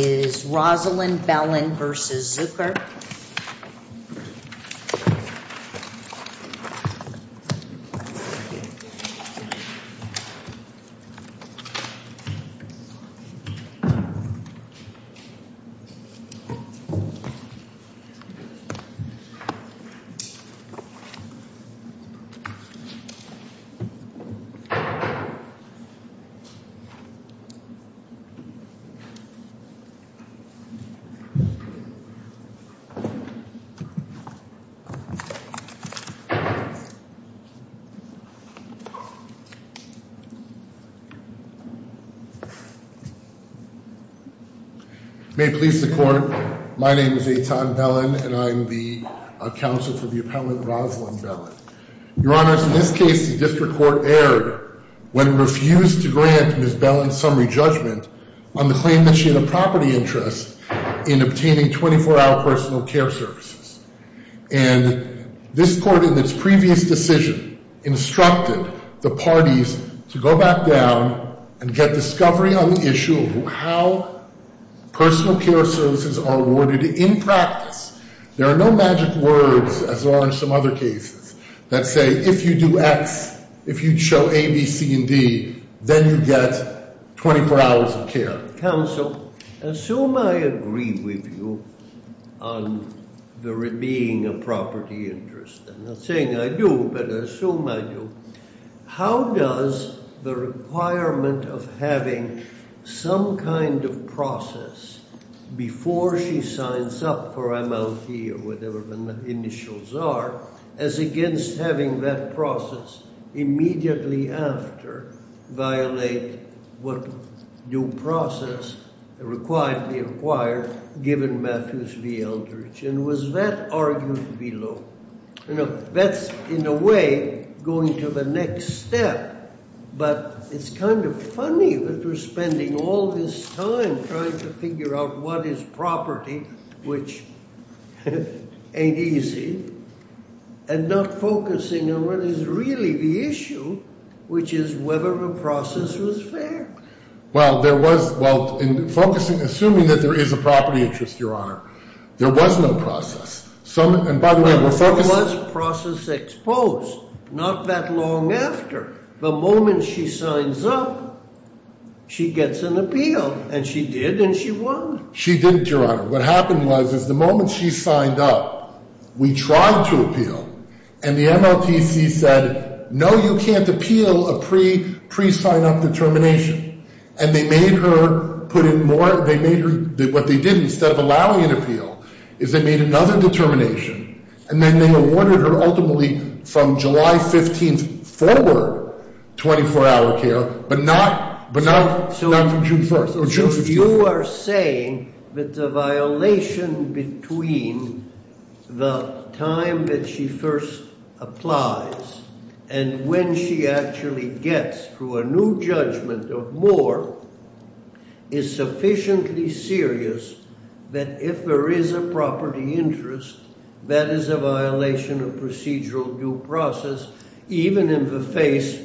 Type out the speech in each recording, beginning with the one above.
Rosalind Bellin v. Zucker Rosalind Bellin v. Zucker May it please the Court, my name is Eitan Bellin and I am the counsel for the Appellant Rosalind Bellin. Your Honors, in this case the District Court erred when it refused to grant Ms. Bellin some re-judgment on the claim that she had a property interest in obtaining 24-hour personal care services, and this Court in its previous decision instructed the parties to go back down and get discovery on the issue of how personal care services are awarded in practice. There are no magic words, as there are in some other cases, that say if you do X, if you show A, B, C, and D, then you get 24 hours of care. Counsel, assume I agree with you on there being a property interest, I'm not saying I do, but I assume I do, how does the requirement of having some kind of process before she signs up for MLT or whatever the initials are, as against having that process immediately after violate what new process required, given Matthews v. Eldridge, and was that argued below? That's, in a way, going to the next step, but it's kind of funny that we're spending all this time trying to figure out what is property, which ain't easy, and not focusing on what is really the issue, which is whether the process was fair. Well, there was, well, in focusing, assuming that there is a property interest, Your Honor, there was no process. Some, and by the way, we're focusing... There was process exposed, not that long after. The moment she signs up, she gets an appeal, and she did, and she won. She didn't, Your Honor. What happened was, is the moment she signed up, we tried to appeal, and the MLTC said, no, you can't appeal a pre-sign-up determination, and they made her put in more, they made her, what they did, instead of allowing an appeal, is they made another determination, and then they awarded her, ultimately, from July 15th forward, 24-hour care, but not from June 1st. So you are saying that the violation between the time that she first applies, and when she actually gets, through a new judgment, of more, is sufficiently serious that if there is a property interest, that is a violation of procedural due process, even in the face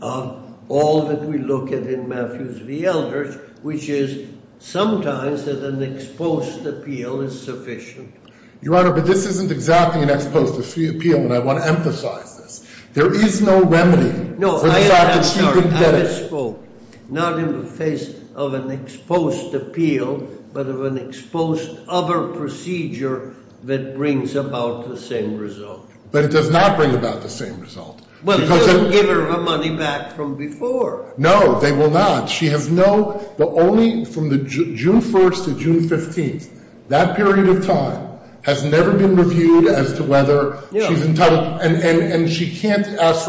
of all that we look at in Matthews v. Eldridge, which is sometimes that an exposed appeal is sufficient? Your Honor, but this isn't exactly an exposed appeal, and I want to emphasize this. There is no remedy for the fact that she didn't get it. No, I am sorry, I misspoke. Not in the face of an exposed appeal, but of an exposed other procedure that brings about the same result. But it does not bring about the same result. Well, they don't give her her money back from before. No, they will not. She has no, the only, from the June 1st to June 15th, that period of time, has never been reviewed as to whether she's entitled, and she can't ask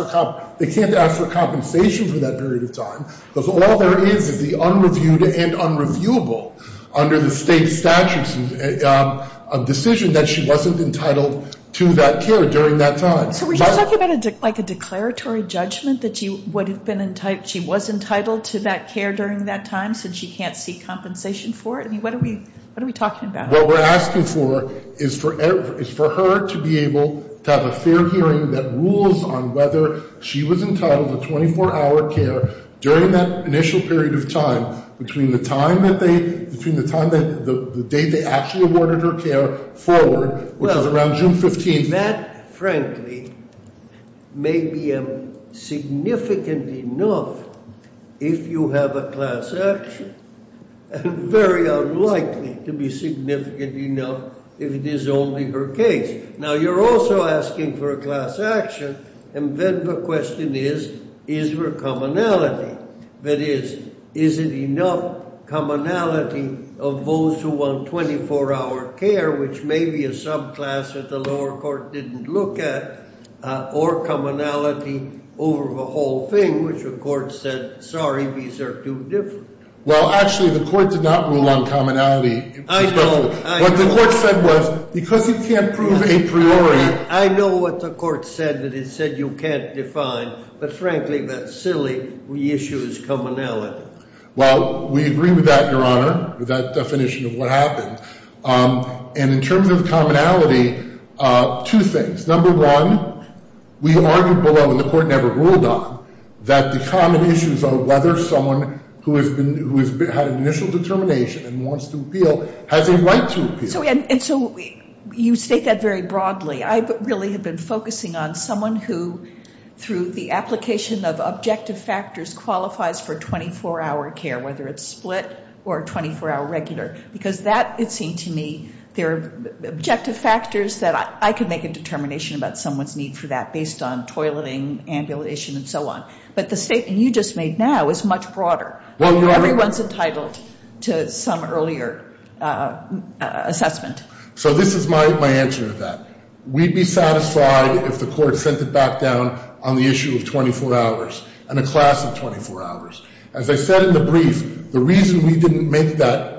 for compensation for that period of time, because all there is is the unreviewed and unreviewable, under the state statutes of decision, that she wasn't entitled to that care during that time. So are you talking about like a declaratory judgment that she was entitled to that care during that time, since she can't seek compensation for it? I mean, what are we talking about? What we're asking for is for her to be able to have a fair hearing that rules on whether she was entitled to 24-hour care during that initial period of time, between the time that they, between the time that, the date they actually awarded her care forward, which was around June 15th. That, frankly, may be significant enough if you have a class action, and very unlikely to be significant enough if it is only her case. Now you're also asking for a class action, and then the question is, is there commonality? That is, is it enough commonality of those who want 24-hour care, which may be a subclass that the lower court didn't look at, or commonality over the whole thing, which the court said, sorry, these are too different. Well, actually, the court did not rule on commonality. I know. What the court said was, because it can't prove a priori. I know what the court said, that it said you can't define, but frankly, that's silly. The issue is commonality. Well, we agree with that, Your Honor, with that definition of what happened. And in terms of commonality, two things. Number one, we argued below, and the court never ruled on, that the common issues are whether someone who has had an initial determination and wants to appeal has a right to appeal. And so you state that very broadly. I really have been focusing on someone who, through the application of objective factors, qualifies for 24-hour care, whether it's split or 24-hour regular. Because that, it seemed to me, there are objective factors that I could make a determination about someone's need for that based on toileting, ambulation, and so on. But the statement you just made now is much broader. Everyone's entitled to some earlier assessment. So this is my answer to that. We'd be satisfied if the court sent it back down on the issue of 24 hours and a class of 24 hours. As I said in the brief, the reason we didn't make that,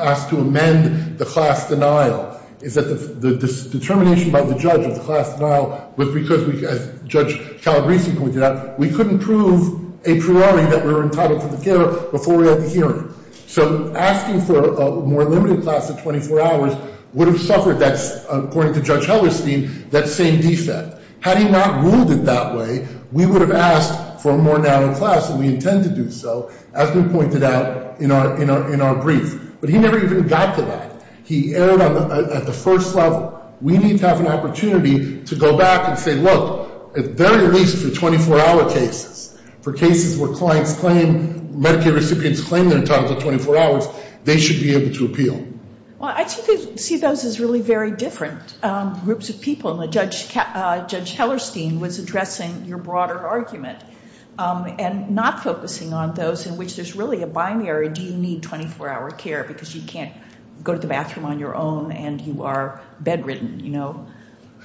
ask to amend the class denial, is that the determination by the judge of the class denial was because, as Judge Calabresi pointed out, we couldn't prove a priori that we were entitled to the care before we had the hearing. So asking for a more limited class of 24 hours would have suffered, according to Judge Hellerstein, that same defect. Had he not ruled it that way, we would have asked for a more narrow class, and we intend to do so, as we pointed out in our brief. But he never even got to that. He erred at the first level. We need to have an opportunity to go back and say, look, at the very least for 24-hour cases, for cases where clients claim, Medicaid recipients claim they're entitled to 24 hours, they should be able to appeal. Well, I think we see those as really very different groups of people, and Judge Hellerstein was addressing your broader argument, and not focusing on those in which there's really a binary, do you need 24-hour care because you can't go to the bathroom on your own and you are bedridden, you know,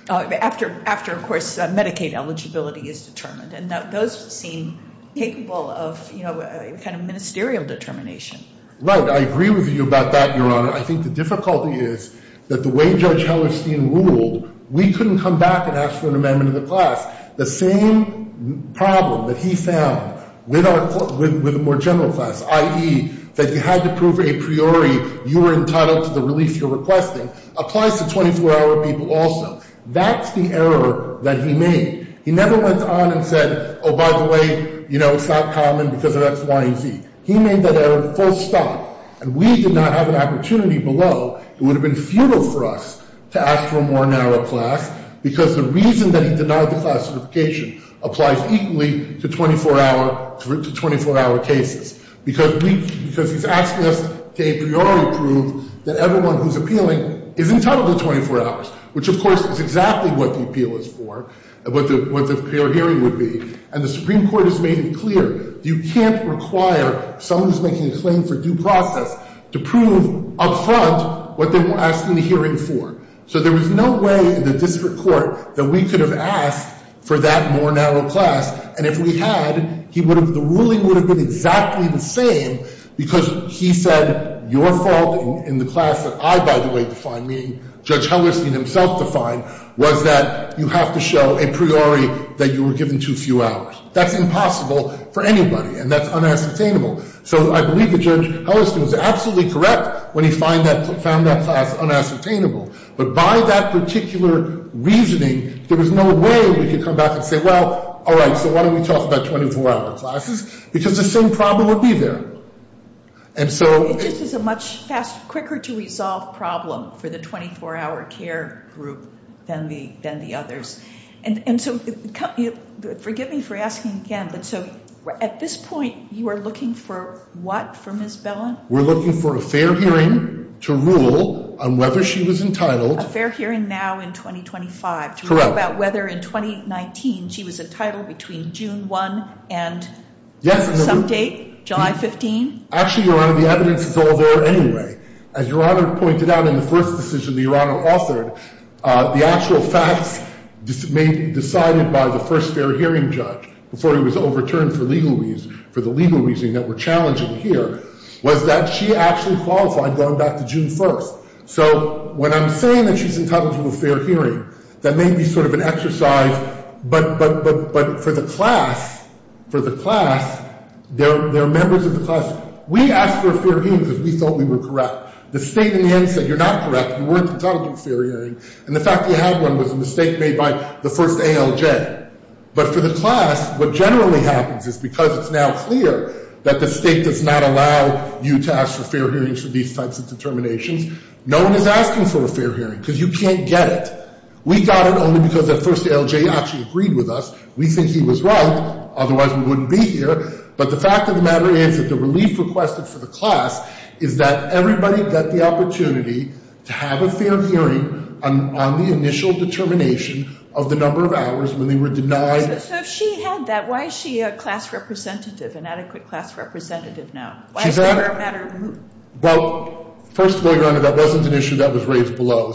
after, of course, Medicaid eligibility is determined. And those seem capable of kind of ministerial determination. Right. I agree with you about that, Your Honor. I think the difficulty is that the way Judge Hellerstein ruled, we couldn't come back and ask for an amendment of the class. The same problem that he found with a more general class, i.e., that you had to prove a priori you were entitled to the relief you're requesting, applies to 24-hour people also. That's the error that he made. He never went on and said, oh, by the way, you know, it's not common because of X, Y, and Z. He made that error full stop, and we did not have an opportunity below. It would have been futile for us to ask for a more narrow class because the reason that he denied the class certification applies equally to 24-hour cases because he's asking us to a priori prove that everyone who's appealing is entitled to 24 hours, which, of course, is exactly what the appeal is for, what the prior hearing would be. And the Supreme Court has made it clear you can't require someone who's making a claim for due process to prove up front what they were asking the hearing for. So there was no way in the district court that we could have asked for that more narrow class, and if we had, the ruling would have been exactly the same because he said your fault in the class that I, by the way, defined, meaning Judge Hellerstein himself defined, was that you have to show a priori that you were given too few hours. That's impossible for anybody, and that's unassertainable. So I believe that Judge Hellerstein was absolutely correct when he found that class unassertainable, but by that particular reasoning, there was no way we could come back and say, well, all right, so why don't we talk about 24-hour classes? Because the same problem would be there. It just is a much quicker-to-resolve problem for the 24-hour care group than the others. And so forgive me for asking again, but so at this point, you are looking for what for Ms. Bellin? We're looking for a fair hearing to rule on whether she was entitled. A fair hearing now in 2025. Correct. To rule about whether in 2019 she was entitled between June 1 and some date, July 15? Actually, Your Honor, the evidence is all there anyway. As Your Honor pointed out in the first decision that Your Honor authored, the actual facts decided by the first fair hearing judge before he was overturned for legal reasons, that were challenging here, was that she actually qualified going back to June 1. So when I'm saying that she's entitled to a fair hearing, that may be sort of an exercise, but for the class, there are members of the class. We asked for a fair hearing because we thought we were correct. The state in the end said, you're not correct. You weren't entitled to a fair hearing. And the fact that you had one was a mistake made by the first ALJ. But for the class, what generally happens is because it's now clear that the state does not allow you to ask for fair hearings for these types of determinations, no one is asking for a fair hearing because you can't get it. We got it only because the first ALJ actually agreed with us. We think he was right. Otherwise, we wouldn't be here. But the fact of the matter is that the relief requested for the class is that everybody got the opportunity to have a fair hearing on the initial determination of the number of hours when they were denied. So if she had that, why is she a class representative, an adequate class representative now? Why is that a matter of movement? Well, first of all, Your Honor, that wasn't an issue that was raised below.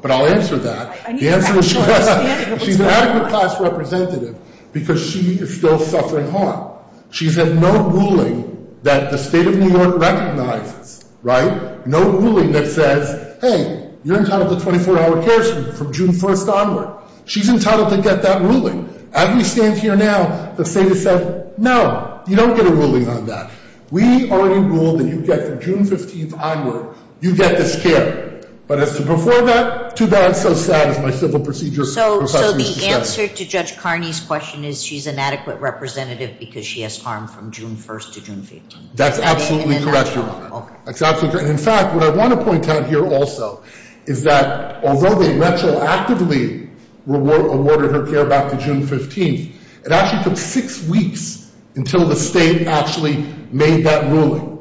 But I'll answer that. The answer is she was. She's an adequate class representative because she is still suffering harm. She's had no ruling that the state of New York recognizes, right? No ruling that says, hey, you're entitled to 24-hour care from June 1st onward. She's entitled to get that ruling. As we stand here now, the state has said, no, you don't get a ruling on that. We already ruled that you get from June 15th onward, you get this care. But as to before that, too bad. So sad is my civil procedure. So the answer to Judge Carney's question is she's an adequate representative because she has harm from June 1st to June 15th. That's absolutely correct, Your Honor. That's absolutely correct. In fact, what I want to point out here also is that although they retroactively awarded her care back to June 15th, it actually took six weeks until the state actually made that ruling.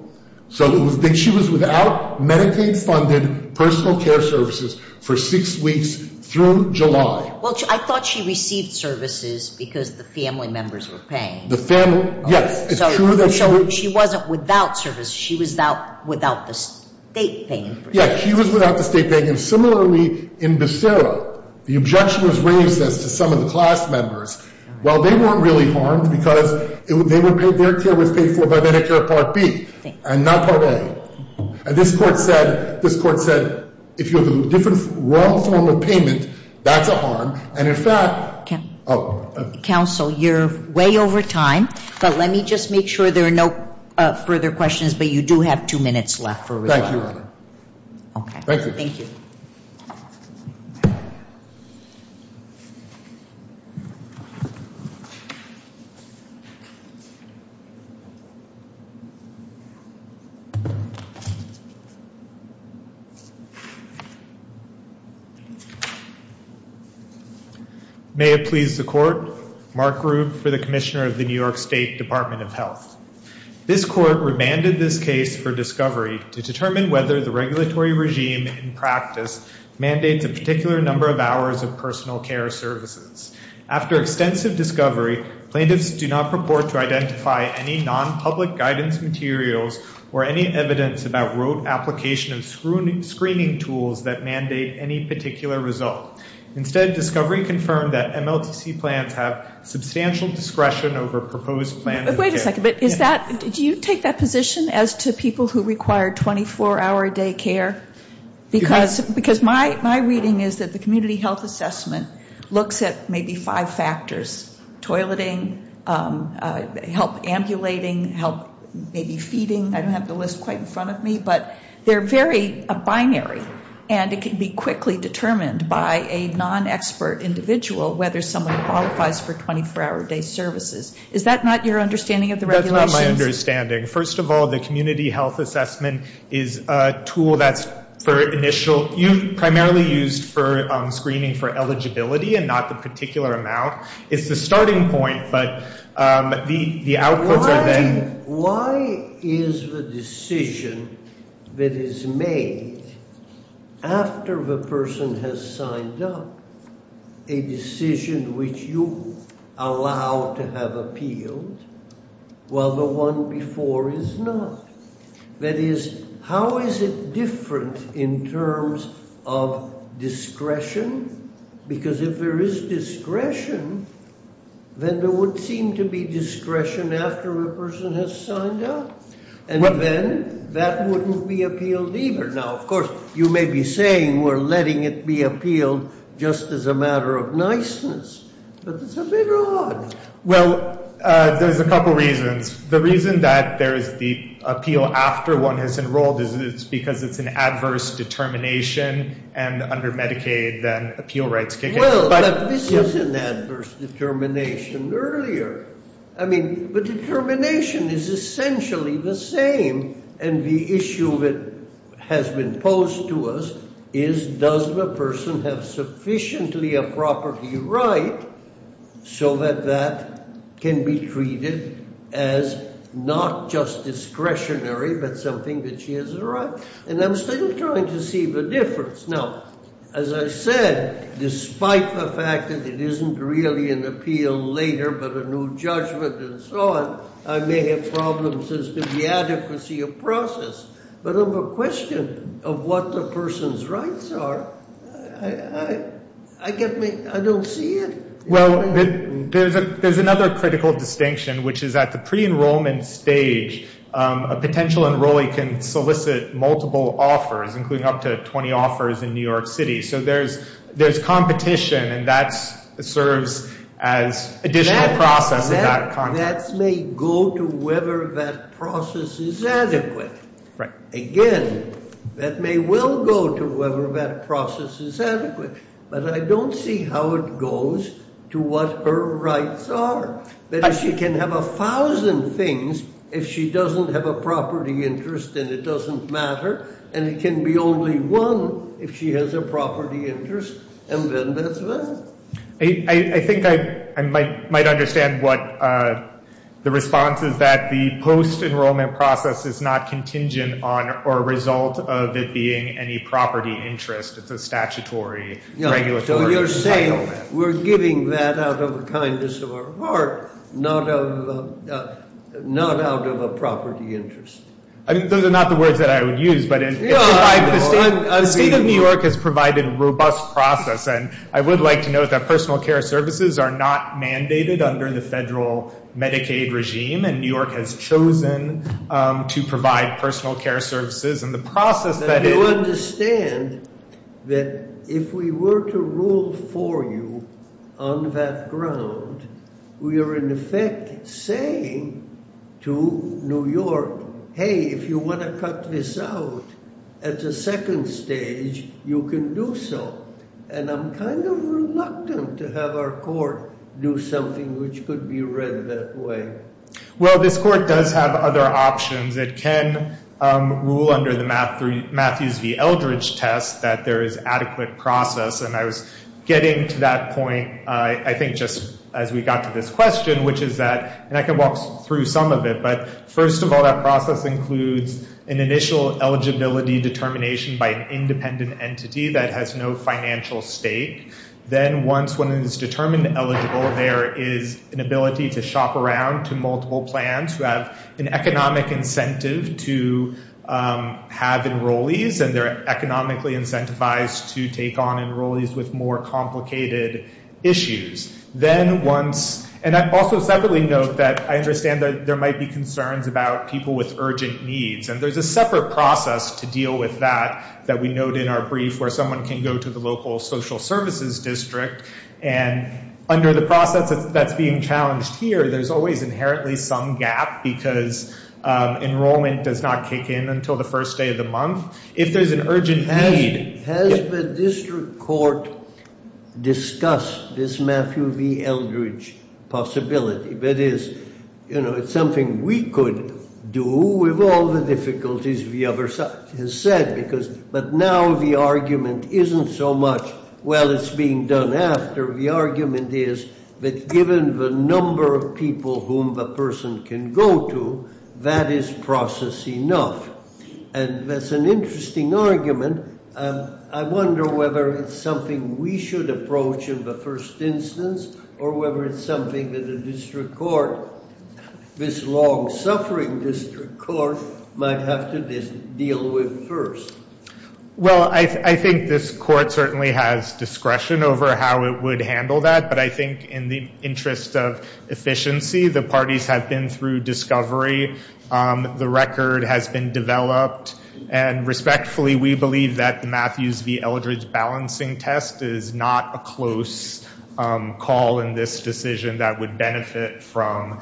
So she was without Medicaid-funded personal care services for six weeks through July. Well, I thought she received services because the family members were paying. The family, yes. So she wasn't without services. She was without the state paying for it. Yes, she was without the state paying. And similarly in Becerra, the objection was raised as to some of the class members. Well, they weren't really harmed because their care was paid for by Medicare Part B and not Part A. And this Court said if you have a different wrong form of payment, that's a harm. And in fact ‑‑ Counsel, you're way over time. But let me just make sure there are no further questions. But you do have two minutes left for rebuttal. Okay. Thank you. May it please the Court. Mark Grubb for the Commissioner of the New York State Department of Health. This Court remanded this case for discovery to determine whether the regulatory regime in practice mandates a particular number of hours of personal care services. After extensive discovery, plaintiffs do not purport to identify any non‑public guidance materials or any evidence about rote application of screening tools that mandate any particular result. Instead, discovery confirmed that MLTC plans have substantial discretion over proposed plans. Wait a second. Do you take that position as to people who require 24‑hour day care? Because my reading is that the community health assessment looks at maybe five factors. Toileting, help ambulating, help maybe feeding. I don't have the list quite in front of me. But they're very binary. And it can be quickly determined by a non‑expert individual whether someone qualifies for 24‑hour day services. Is that not your understanding of the regulations? That's not my understanding. First of all, the community health assessment is a tool that's for initial primarily used for screening for eligibility and not the particular amount. It's the starting point, but the outputs are then Why is the decision that is made after the person has signed up a decision which you allow to have appealed while the one before is not? That is, how is it different in terms of discretion? Because if there is discretion, then there would seem to be discretion after a person has signed up. And then that wouldn't be appealed either. Now, of course, you may be saying we're letting it be appealed just as a matter of niceness. But it's a bit odd. Well, there's a couple reasons. The reason that there is the appeal after one has enrolled is because it's an adverse determination and under Medicaid, then appeal rights kick in. Well, but this is an adverse determination earlier. I mean, the determination is essentially the same. And the issue that has been posed to us is does the person have sufficiently a property right so that that can be treated as not just discretionary, but something that she has a right. And I'm still trying to see the difference. Now, as I said, despite the fact that it isn't really an appeal later but a new judgment and so on, I may have problems as to the adequacy of process. But on the question of what the person's rights are, I don't see it. Well, there's another critical distinction, which is at the pre-enrollment stage, a potential enrollee can solicit multiple offers, including up to 20 offers in New York City. So there's competition, and that serves as additional process. That may go to whether that process is adequate. Again, that may well go to whether that process is adequate. But I don't see how it goes to what her rights are. But if she can have 1,000 things, if she doesn't have a property interest, then it doesn't matter. And it can be only one if she has a property interest, and then that's it. I think I might understand what the response is that the post-enrollment process is not contingent on or a result of it being any property interest. It's a statutory regulatory entitlement. So you're saying we're giving that out of the kindness of our heart, not out of a property interest. Those are not the words that I would use. But the state of New York has provided a robust process. And I would like to note that personal care services are not mandated under the federal Medicaid regime, and New York has chosen to provide personal care services. Do you understand that if we were to rule for you on that ground, we are in effect saying to New York, hey, if you want to cut this out at the second stage, you can do so. And I'm kind of reluctant to have our court do something which could be read that way. Well, this court does have other options. It can rule under the Matthews v. Eldridge test that there is adequate process. And I was getting to that point, I think, just as we got to this question, which is that, and I can walk through some of it, but first of all, that process includes an initial eligibility determination by an independent entity that has no financial stake. Then once one is determined eligible, there is an ability to shop around to multiple plans who have an economic incentive to have enrollees, and they're economically incentivized to take on enrollees with more complicated issues. Then once, and I also separately note that I understand that there might be concerns about people with urgent needs, and there's a separate process to deal with that that we note in our brief where someone can go to the local social services district. And under the process that's being challenged here, there's always inherently some gap because enrollment does not kick in until the first day of the month. If there's an urgent need- Has the district court discussed this Matthew v. Eldridge possibility? That is, you know, it's something we could do with all the difficulties the other side has said, but now the argument isn't so much, well, it's being done after. The argument is that given the number of people whom the person can go to, that is process enough. And that's an interesting argument. I wonder whether it's something we should approach in the first instance or whether it's something that the district court, this long-suffering district court, might have to deal with first. Well, I think this court certainly has discretion over how it would handle that, but I think in the interest of efficiency, the parties have been through discovery. The record has been developed, and respectfully, we believe that the Matthews v. Eldridge balancing test is not a close call in this decision that would benefit from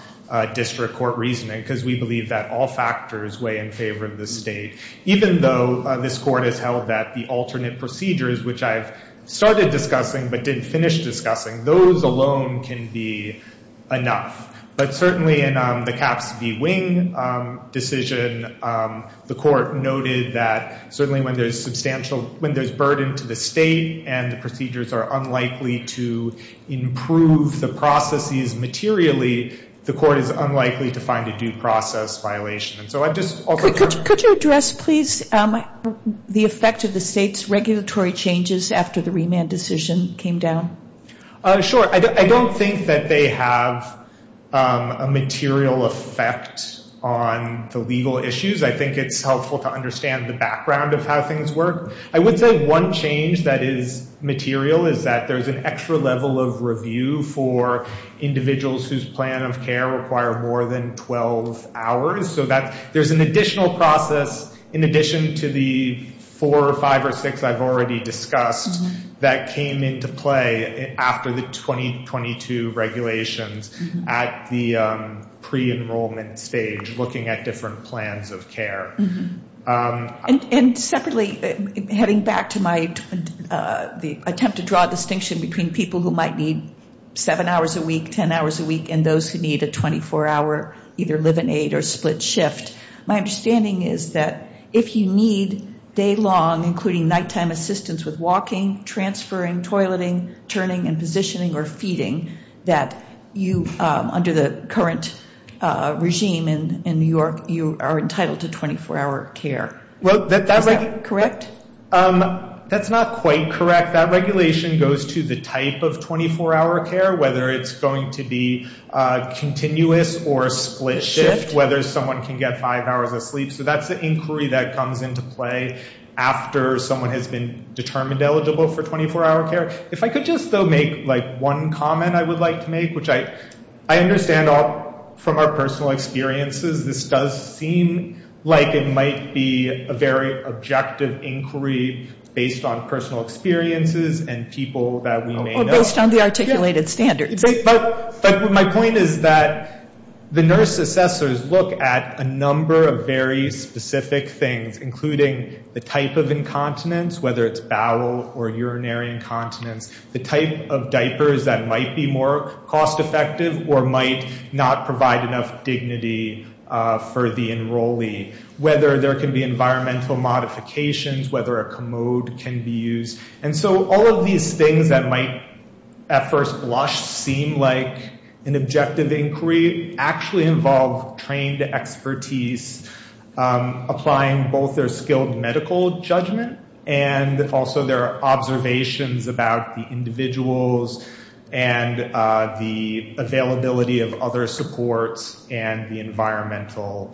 district court reasoning because we believe that all factors weigh in favor of the state. Even though this court has held that the alternate procedures, which I've started discussing but didn't finish discussing, those alone can be enough. But certainly in the Capps v. Wing decision, the court noted that certainly when there's burden to the state and the procedures are unlikely to improve the processes materially, the court is unlikely to find a due process violation. Could you address, please, the effect of the state's regulatory changes after the remand decision came down? Sure. I don't think that they have a material effect on the legal issues. I think it's helpful to understand the background of how things work. I would say one change that is material is that there's an extra level of review for individuals whose plan of care require more than 12 hours. So there's an additional process in addition to the four or five or six I've already discussed that came into play after the 2022 regulations at the pre-enrollment stage, looking at different plans of care. And separately, heading back to my attempt to draw a distinction between people who might need seven hours a week, ten hours a week, and those who need a 24-hour either live and aid or split shift, my understanding is that if you need day-long, including nighttime assistance with walking, transferring, toileting, turning and positioning or feeding, that you, under the current regime in New York, you are entitled to 24-hour care. Is that correct? That's not quite correct. That regulation goes to the type of 24-hour care, whether it's going to be continuous or split shift, whether someone can get five hours of sleep. So that's the inquiry that comes into play after someone has been determined eligible for 24-hour care. If I could just, though, make one comment I would like to make, which I understand from our personal experiences, this does seem like it might be a very objective inquiry based on personal experiences and people that we may know. Or based on the articulated standards. My point is that the nurse assessors look at a number of very specific things, including the type of incontinence, whether it's bowel or urinary incontinence, the type of diapers that might be more cost-effective or might not provide enough dignity for the enrollee, whether there can be environmental modifications, whether a commode can be used. And so all of these things that might at first blush seem like an objective inquiry actually involve trained expertise, applying both their skilled medical judgment and also their observations about the individuals and the availability of other supports and the environmental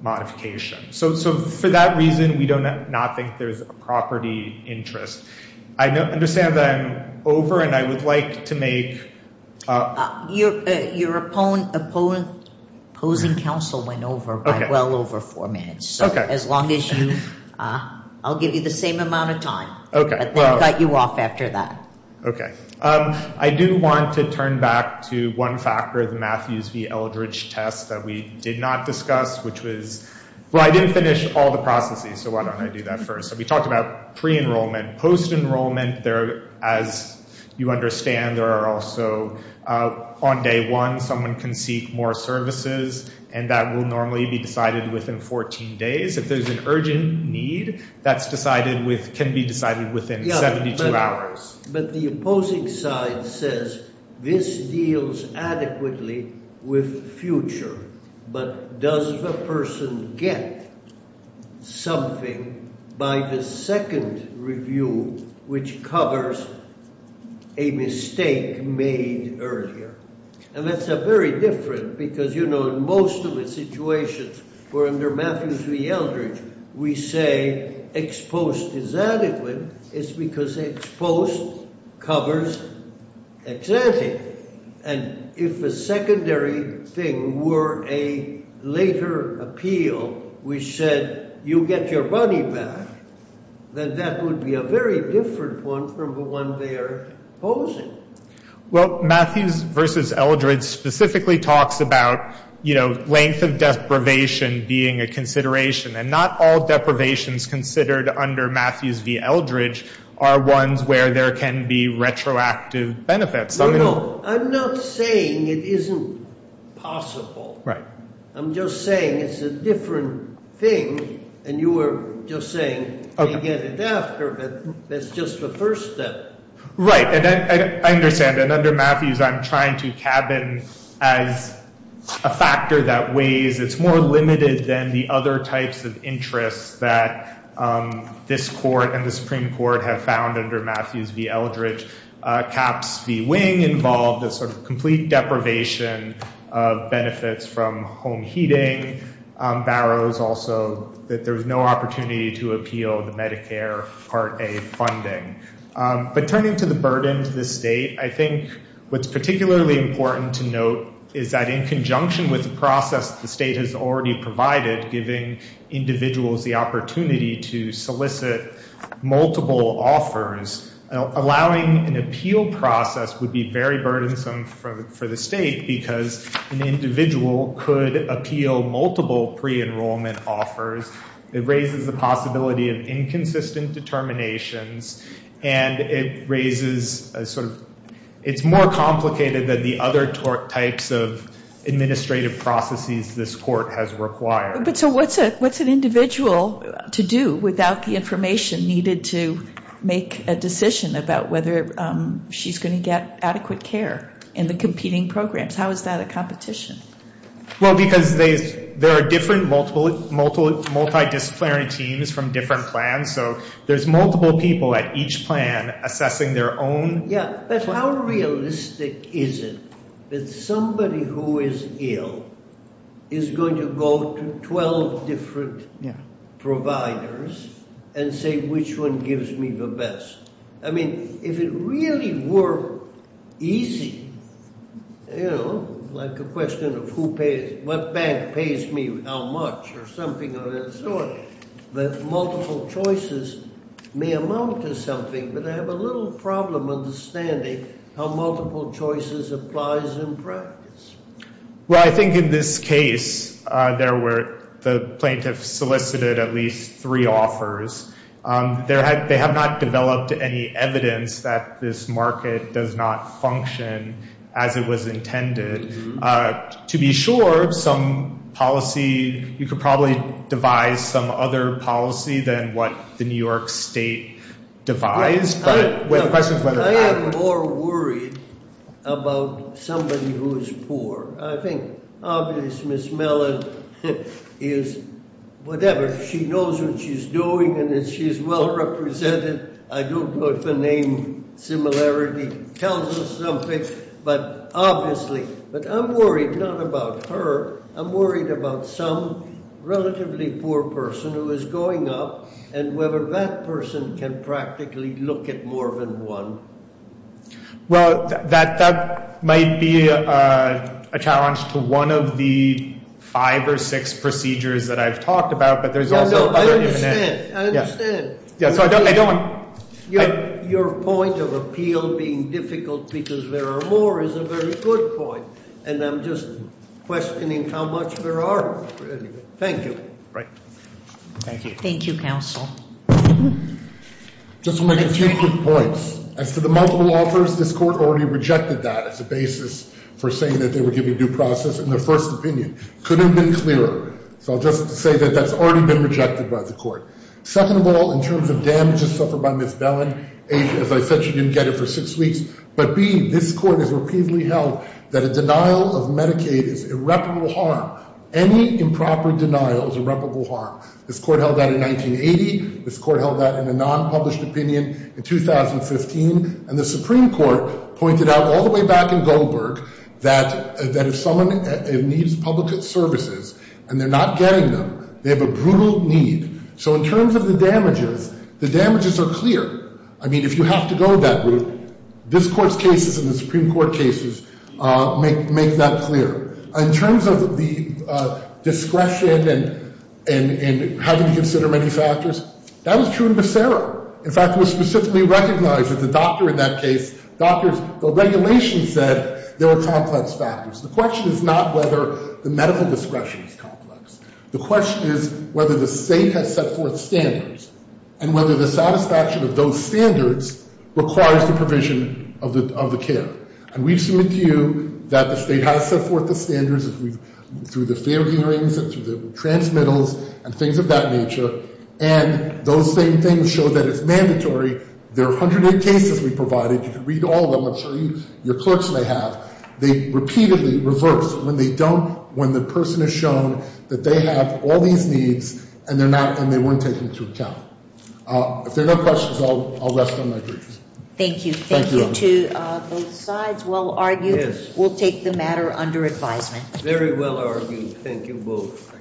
modification. So for that reason, we do not think there's a property interest. I understand that I'm over, and I would like to make— Your opposing counsel went over by well over four minutes. Okay. So as long as you—I'll give you the same amount of time, but then cut you off after that. Okay. I do want to turn back to one factor of the Matthews v. Eldridge test that we did not discuss, which was—well, I didn't finish all the processes, so why don't I do that first? So we talked about pre-enrollment, post-enrollment. As you understand, there are also—on day one, someone can seek more services, and that will normally be decided within 14 days. If there's an urgent need, that's decided with—can be decided within 72 hours. But the opposing side says this deals adequately with future, but does the person get something by the second review, which covers a mistake made earlier? And that's very different because, you know, in most of the situations, for under Matthews v. Eldridge, we say ex post is adequate. It's because ex post covers ex ante. And if a secondary thing were a later appeal which said you get your money back, then that would be a very different one from the one they're opposing. Well, Matthews v. Eldridge specifically talks about, you know, length of deprivation being a consideration, and not all deprivations considered under Matthews v. Eldridge are ones where there can be retroactive benefits. No, no. I'm not saying it isn't possible. Right. I'm just saying it's a different thing, and you were just saying they get it after, but that's just the first step. Right. And I understand that under Matthews I'm trying to cabin as a factor that weighs. It's more limited than the other types of interests that this court and the Supreme Court have found under Matthews v. Eldridge. Caps v. Wing involve the sort of complete deprivation of benefits from home heating. Barrows also that there's no opportunity to appeal the Medicare Part A funding. But turning to the burden to the state, I think what's particularly important to note is that in conjunction with the process the state has already provided, giving individuals the opportunity to solicit multiple offers, allowing an appeal process would be very burdensome for the state because an individual could appeal multiple pre-enrollment offers. It raises the possibility of inconsistent determinations, and it's more complicated than the other types of administrative processes this court has required. So what's an individual to do without the information needed to make a decision about whether she's going to get adequate care in the competing programs? How is that a competition? Well, because there are different multidisciplinary teams from different plans, so there's multiple people at each plan assessing their own. Yeah, but how realistic is it that somebody who is ill is going to go to 12 different providers and say, which one gives me the best? I mean, if it really were easy, you know, like a question of what bank pays me how much or something of that sort, that multiple choices may amount to something, but I have a little problem understanding how multiple choices applies in practice. Well, I think in this case the plaintiff solicited at least three offers. They have not developed any evidence that this market does not function as it was intended. To be sure, some policy, you could probably devise some other policy than what the New York State devised. I am more worried about somebody who is poor. I think obviously Miss Mellon is whatever. She knows what she's doing and she's well represented. I don't know if the name similarity tells us something, but obviously. But I'm worried not about her. I'm worried about some relatively poor person who is going up and whether that person can practically look at more than one. Well, that might be a challenge to one of the five or six procedures that I've talked about. I understand. Your point of appeal being difficult because there are more is a very good point. And I'm just questioning how much there are. Thank you. Thank you, counsel. Just want to make a few quick points. As to the multiple offers, this court already rejected that as a basis for saying that they were giving due process in their first opinion. Couldn't have been clearer. So I'll just say that that's already been rejected by the court. Second of all, in terms of damages suffered by Miss Mellon, A, as I said, she didn't get it for six weeks. But B, this court has repeatedly held that a denial of Medicaid is irreparable harm. Any improper denial is irreparable harm. This court held that in 1980. This court held that in a non-published opinion in 2015. And the Supreme Court pointed out all the way back in Goldberg that if someone needs public services and they're not getting them, they have a brutal need. So in terms of the damages, the damages are clear. I mean, if you have to go that route, this court's cases and the Supreme Court cases make that clear. In terms of the discretion and having to consider many factors, that was true in Becerra. In fact, it was specifically recognized that the doctor in that case, doctors, the regulation said there were complex factors. The question is not whether the medical discretion is complex. The question is whether the state has set forth standards and whether the satisfaction of those standards requires the provision of the care. And we've submitted to you that the state has set forth the standards through the fair hearings and through the transmittals and things of that nature. And those same things show that it's mandatory. There are 108 cases we provided. You can read all of them. I'll show you. Your clerks may have. They repeatedly reverse when they don't, when the person is shown that they have all these needs and they're not, and they weren't taken into account. If there are no questions, I'll rest on my greetings. Thank you. Thank you to both sides. Well argued. We'll take the matter under advisement. Very well argued. Thank you both.